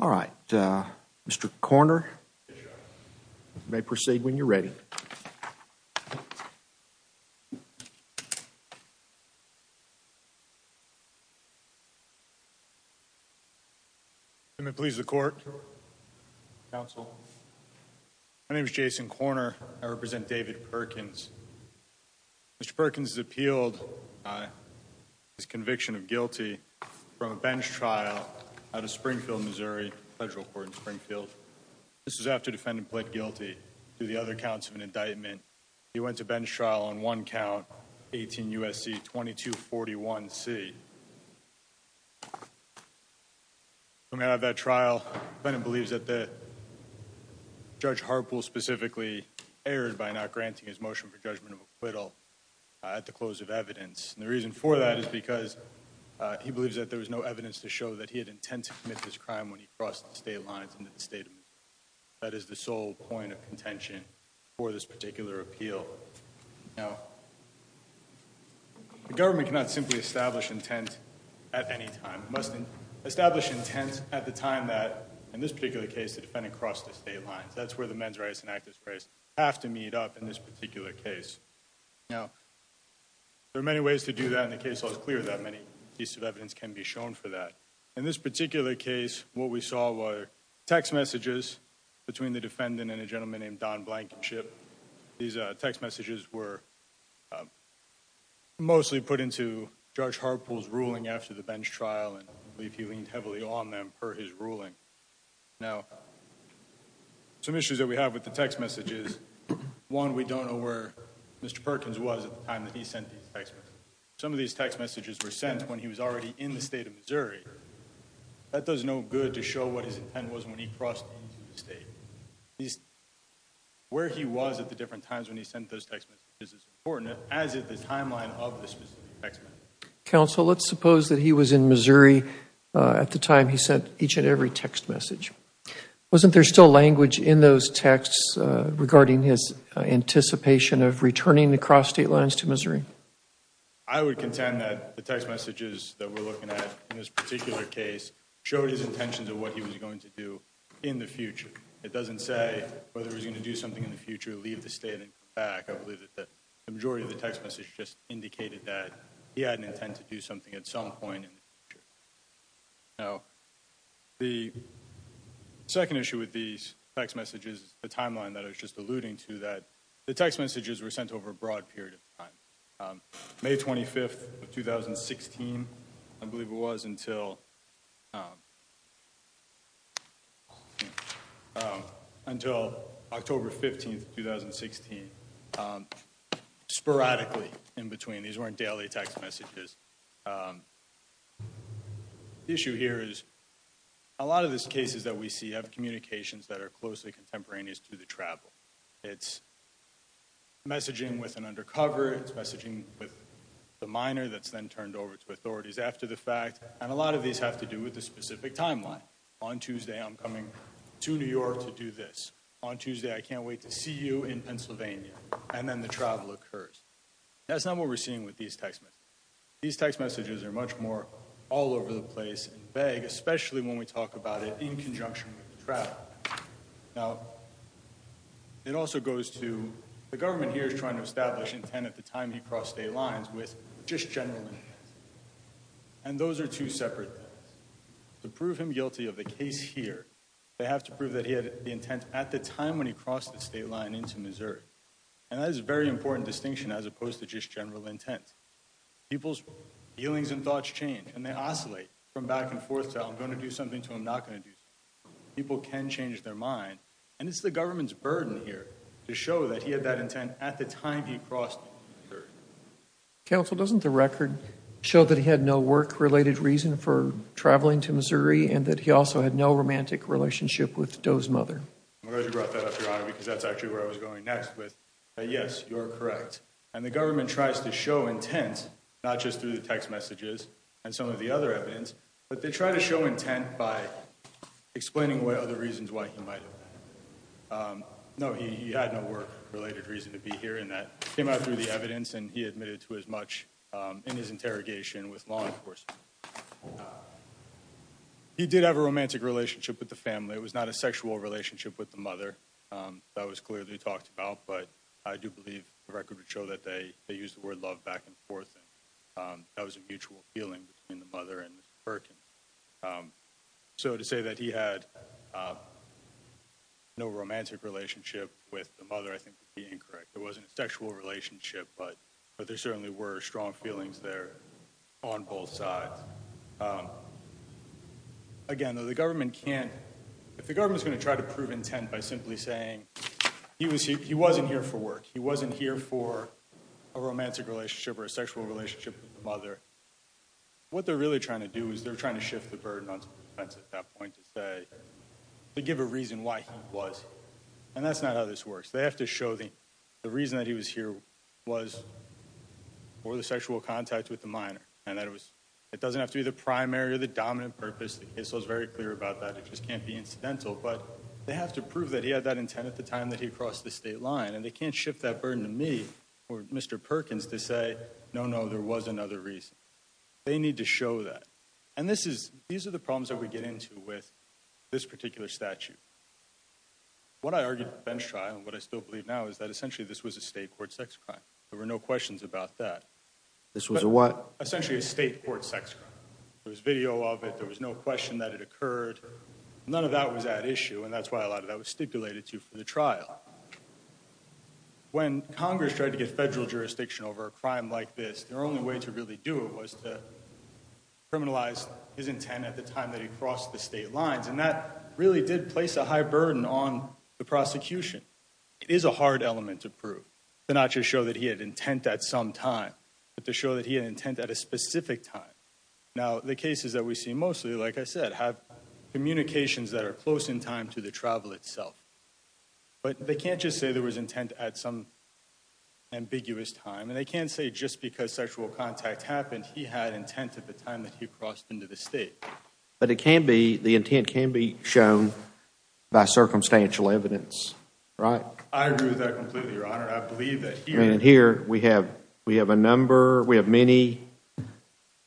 All right, Mr. Corner, you may proceed when you're ready. May it please the court, counsel, my name is Jason Corner, I represent David Perkins. Mr. Perkins has appealed his conviction of guilty from a bench trial out of Springfield, Missouri, federal court in Springfield. This is after defendant pled guilty to the other counts of an indictment. He went to bench trial on one count, 18 U.S.C. 2241 C. Coming out of that trial, defendant believes that Judge Harpool specifically erred by not committing the crime. The reason for that is because he believes that there was no evidence to show that he had intent to commit this crime when he crossed the state lines into the state of Missouri. That is the sole point of contention for this particular appeal. Now, the government cannot simply establish intent at any time, it must establish intent at the time that, in this particular case, the defendant crossed the state lines. That's where the men's rights and active rights have to meet up in this particular case. Now, there are many ways to do that, and the case law is clear that many pieces of evidence can be shown for that. In this particular case, what we saw were text messages between the defendant and a gentleman named Don Blankenship. These text messages were mostly put into Judge Harpool's ruling after the bench trial, and I believe he leaned heavily on them per his ruling. Now, some issues that we have with the text messages, one, we don't know where Mr. Perkins was at the time that he sent these text messages. Some of these text messages were sent when he was already in the state of Missouri. That does no good to show what his intent was when he crossed into the state. Where he was at the different times when he sent those text messages is important, as is the timeline of the specific text messages. Counsel, let's suppose that he was in Missouri at the time he sent each and every text message. Wasn't there still language in those texts regarding his anticipation of returning to cross state lines to Missouri? I would contend that the text messages that we're looking at in this particular case showed his intentions of what he was going to do in the future. It doesn't say whether he was going to do something in the future, leave the state, and come back. I believe that the majority of the text messages just indicated that he had an intent to do something at some point in the future. Now, the second issue with these text messages, the timeline that I was just alluding to, that the text messages were sent over a broad period of time. May 25th of 2016, I believe it was, until October 15th, 2016. Sporadically in between. These weren't daily text messages. The issue here is, a lot of these cases that we see have communications that are closely contemporaneous to the travel. It's messaging with an undercover, it's messaging with a minor that's then turned over to authorities after the fact, and a lot of these have to do with the specific timeline. On Tuesday, I'm coming to New York to do this. On Tuesday, I can't wait to see you in Pennsylvania. And then the travel occurs. That's not what we're seeing with these text messages. These text messages are much more all over the place and vague, especially when we talk about it in conjunction with the travel. Now, it also goes to, the government here is trying to establish intent at the time he crossed state lines with just general intent. And those are two separate things. To prove him guilty of the case here, they have to prove that he had the intent at the time when he crossed the state line into Missouri. And that is a very important distinction as opposed to just general intent. People's feelings and thoughts change, and they oscillate from back and forth to, I'm going to do something to him, not going to do something to him. People can change their mind. And it's the government's burden here to show that he had that intent at the time he crossed. Counsel, doesn't the record show that he had no work-related reason for traveling to Missouri and that he also had no romantic relationship with Doe's mother? I'm glad you brought that up, Your Honor, because that's actually where I was going next with, that yes, you're correct. And the government tries to show intent, not just through the text messages and some of the other evidence, but they try to show intent by explaining what other reasons why he might have. No, he had no work-related reason to be here, and that came out through the evidence, and he admitted to as much in his interrogation with law enforcement. He did have a romantic relationship with the family. It was not a sexual relationship with the mother. That was clearly talked about, but I do believe the record would show that they used the word love back and forth, and that was a mutual feeling between the mother and Mr. Perkins. So to say that he had no romantic relationship with the mother, I think, would be incorrect. It wasn't a sexual relationship, but there certainly were strong feelings there on both sides. Again, though, the government can't, if the government's going to try to prove intent by simply saying, he wasn't here for work, he wasn't here for a romantic relationship or a sexual relationship with the mother. What they're really trying to do is they're trying to shift the burden onto the defense at that point to say, to give a reason why he was. And that's not how this works. They have to show the reason that he was here was for the sexual contact with the minor, and that it doesn't have to be the primary or the dominant purpose, the case law's very incidental, but they have to prove that he had that intent at the time that he crossed the state line. And they can't shift that burden to me or Mr. Perkins to say, no, no, there was another reason. They need to show that. And these are the problems that we get into with this particular statute. What I argued at the bench trial, and what I still believe now, is that essentially this was a state court sex crime. There were no questions about that. This was a what? Essentially a state court sex crime. There was video of it, there was no question that it occurred. None of that was at issue, and that's why a lot of that was stipulated to for the trial. When Congress tried to get federal jurisdiction over a crime like this, their only way to really do it was to criminalize his intent at the time that he crossed the state lines. And that really did place a high burden on the prosecution. It is a hard element to prove, to not just show that he had intent at some time, but to show that he had intent at a specific time. Now, the cases that we see mostly, like I said, have communications that are close in time to the travel itself. But they can't just say there was intent at some ambiguous time, and they can't say just because sexual contact happened, he had intent at the time that he crossed into the state. But it can be, the intent can be shown by circumstantial evidence, right? I agree with that completely, Your Honor. And here, we have a number, we have many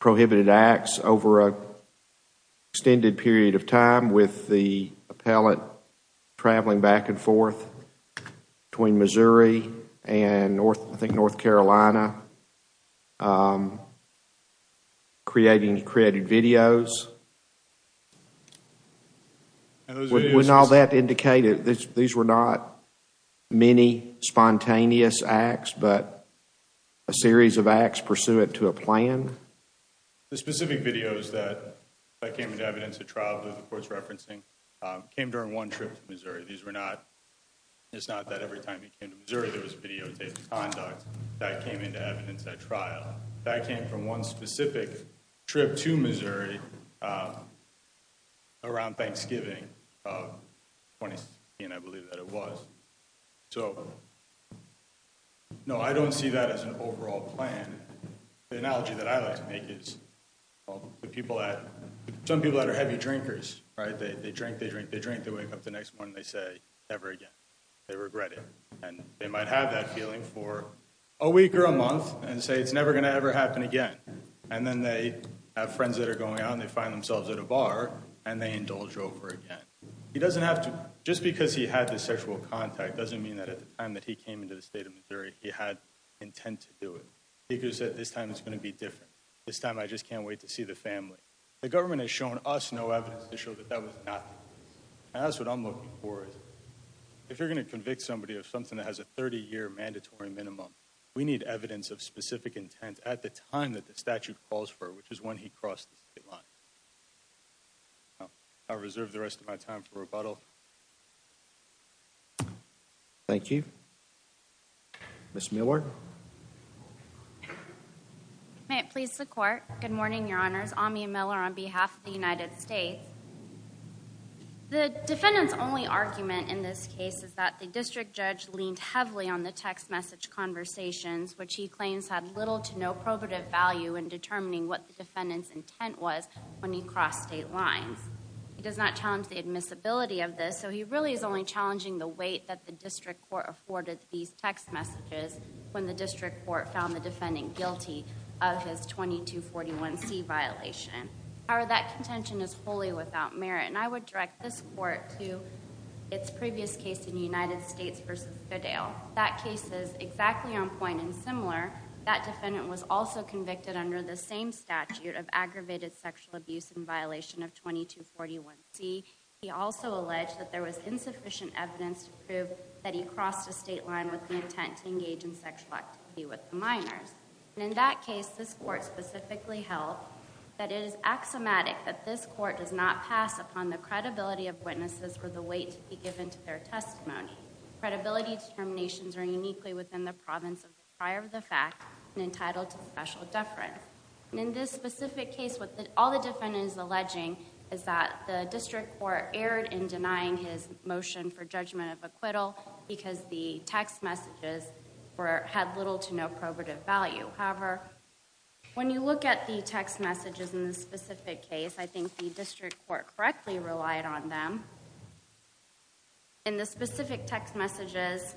prohibited acts over an extended period of time with the appellate traveling back and forth between Missouri and I think North Carolina, creating videos. Wouldn't all that indicate that these were not many spontaneous acts, but a series of acts pursuant to a plan? The specific videos that came into evidence at trial, that the court's referencing, came during one trip to Missouri. These were not, it's not that every time he came to Missouri there was videotaped conduct. That came into evidence at trial. But that came from one specific trip to Missouri around Thanksgiving of 2016, I believe that it was. So, no, I don't see that as an overall plan. The analogy that I like to make is, well, the people that, some people that are heavy drinkers, right? They drink, they drink, they drink, they wake up the next morning, they say, never again. They regret it. And they might have that feeling for a week or a month and say it's never going to ever happen again. And then they have friends that are going out and they find themselves at a bar and they indulge over again. He doesn't have to, just because he had this sexual contact doesn't mean that at the time that he came into the state of Missouri he had intent to do it. He could have said, this time it's going to be different. This time I just can't wait to see the family. The government has shown us no evidence to show that that was not the case. And that's what I'm looking for. If you're going to convict somebody of something that has a 30-year mandatory minimum, we need evidence of specific intent at the time that the statute calls for, which is when he crossed the state line. I'll reserve the rest of my time for rebuttal. Thank you. Ms. Millward. May it please the Court. Good morning, Your Honors. Amia Miller on behalf of the United States. The defendant's only argument in this case is that the district judge leaned heavily on the text message conversations, which he claims had little to no probative value in determining what the defendant's intent was when he crossed state lines. He does not challenge the admissibility of this, so he really is only challenging the weight that the district court afforded these text messages when the district court found the defendant guilty of his 2241C violation. However, that contention is wholly without merit, and I would direct this Court to its previous case in United States v. Fidele. That case is exactly on point and similar. That defendant was also convicted under the same statute of aggravated sexual abuse in violation of 2241C. He also alleged that there was insufficient evidence to prove that he crossed the state line with the intent to engage in sexual activity with the minors. In that case, this Court specifically held that it is axiomatic that this Court does not pass upon the credibility of witnesses for the weight to be given to their testimony. Credibility determinations are uniquely within the province of the prior of the fact and entitled to special deference. In this specific case, what all the defendant is alleging is that the district court erred in denying his motion for judgment of acquittal because the text messages had little to no probative value. However, when you look at the text messages in this specific case, I think the district court correctly relied on them. In the specific text messages,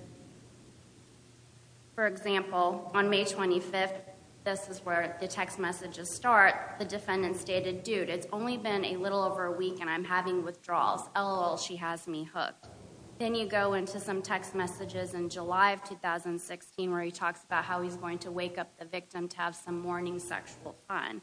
for example, on May 25th, this is where the text messages start, the defendant stated, dude, it's only been a little over a week and I'm having withdrawals. LOL, she has me hooked. Then you go into some text messages in July of 2016 where he talks about how he's going to wake up the victim to have some morning sexual fun.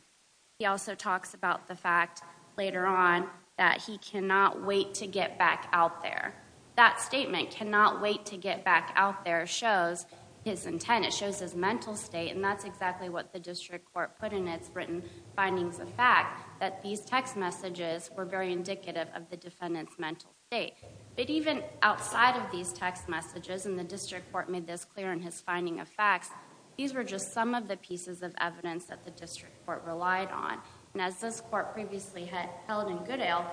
He also talks about the fact later on that he cannot wait to get back out there. That statement, cannot wait to get back out there, shows his intent, it shows his mental state and that's exactly what the district court put in its written findings of fact that these text messages were very indicative of the defendant's mental state. But even outside of these text messages, and the district court made this clear in his finding of facts, these were just some of the pieces of evidence that the district court relied on. And as this court previously held in Goodale,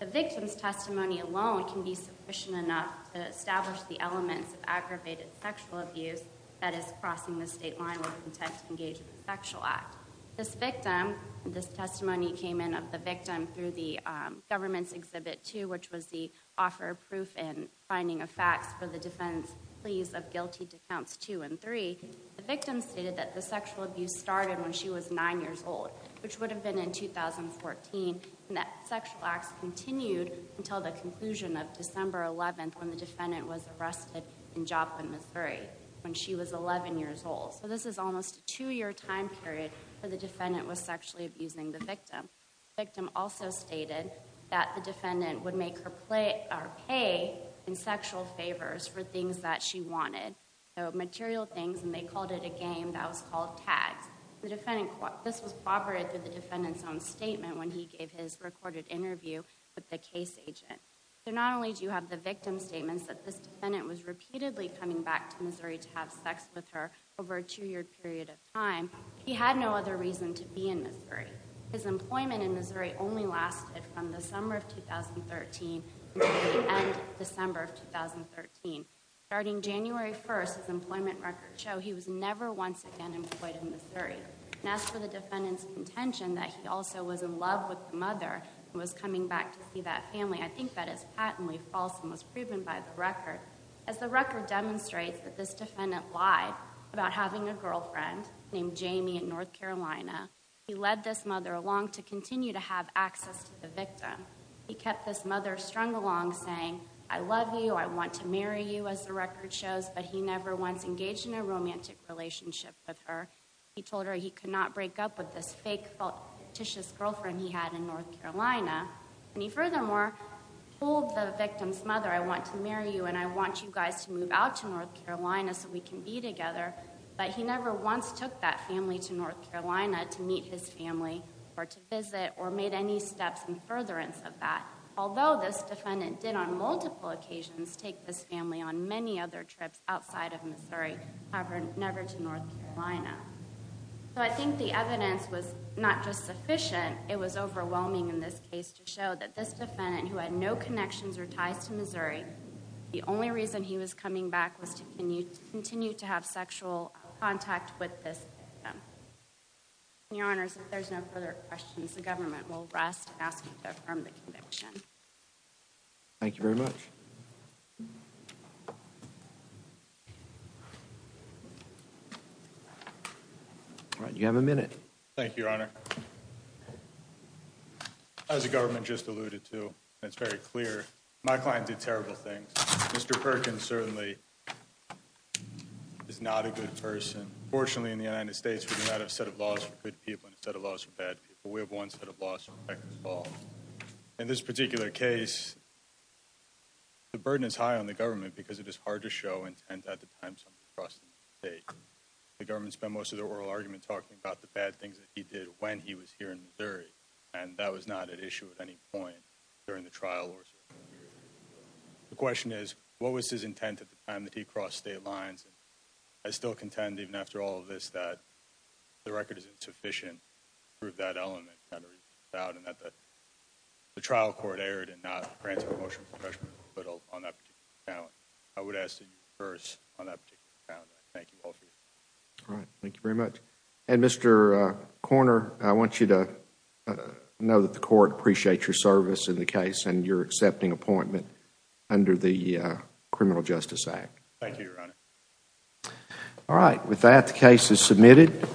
the victim's testimony alone can be sufficient enough to establish the elements of aggravated sexual abuse that is crossing the state line with the text engagement sexual act. This victim, this testimony came in of the victim through the government's exhibit two, which was the offer of proof and finding of facts for the defendant's pleas of guilty to counts two and three. The victim stated that the sexual abuse started when she was nine years old, which would have been in 2014, and that sexual acts continued until the conclusion of December 11th when the defendant was arrested in Joplin, Missouri when she was 11 years old. So this is almost a two year time period where the defendant was sexually abusing the victim. The victim also stated that the defendant would make her pay in sexual favors for things that she wanted. So material things, and they called it a game that was called tags. This was corroborated through the defendant's own statement when he gave his recorded interview with the case agent. So not only do you have the victim's statements that this defendant was repeatedly coming back to Missouri to have sex with her over a two year period of time, he had no other reason to be in Missouri. His employment in Missouri only lasted from the summer of 2013 until the end of December of 2013. Starting January 1st, his employment records show he was never once again employed in Missouri. And as for the defendant's contention that he also was in love with the mother and was coming back to see that family, I think that is patently false and was proven by the record. As the record demonstrates that this defendant lied about having a girlfriend named Jamie in North Carolina, he led this mother along to continue to have access to the victim. He kept this mother strung along saying, I love you, I want to marry you as the record shows, but he never once engaged in a romantic relationship with her. He told her he could not break up with this fake, fictitious girlfriend he had in North Carolina. And he furthermore told the victim's mother, I want to marry you and I want you guys to meet his family or to visit or made any steps in furtherance of that. Although this defendant did on multiple occasions take this family on many other trips outside of Missouri, however, never to North Carolina. So I think the evidence was not just sufficient, it was overwhelming in this case to show that this defendant, who had no connections or ties to Missouri, the only reason he was coming back was to continue to have sexual contact with this victim. And your honors, if there's no further questions, the government will rest and ask you to affirm the conviction. Thank you very much. You have a minute. Thank you, your honor. As the government just alluded to, it's very clear. My client did terrible things. Mr. Perkins certainly is not a good person. Fortunately, in the United States, we do not have a set of laws for good people and a set of laws for bad people. We have one set of laws for all. In this particular case, the burden is high on the government because it is hard to show intent at the time. The government spent most of the oral argument talking about the bad things that he did when he was here in Missouri. And that was not an issue at any point during the trial. The question is, what was his intent at the time that he crossed state lines? I still contend, even after all of this, that the record is insufficient to prove that element. And that the trial court erred and not granted a motion for judgment on that particular account. I would ask that you concur on that particular account. Thank you all for your time. All right. Thank you very much. And Mr. Korner, I want you to know that the court appreciates your service in the case and your accepting appointment under the Criminal Justice Act. Thank you, Your Honor. All right. With that, the case is submitted.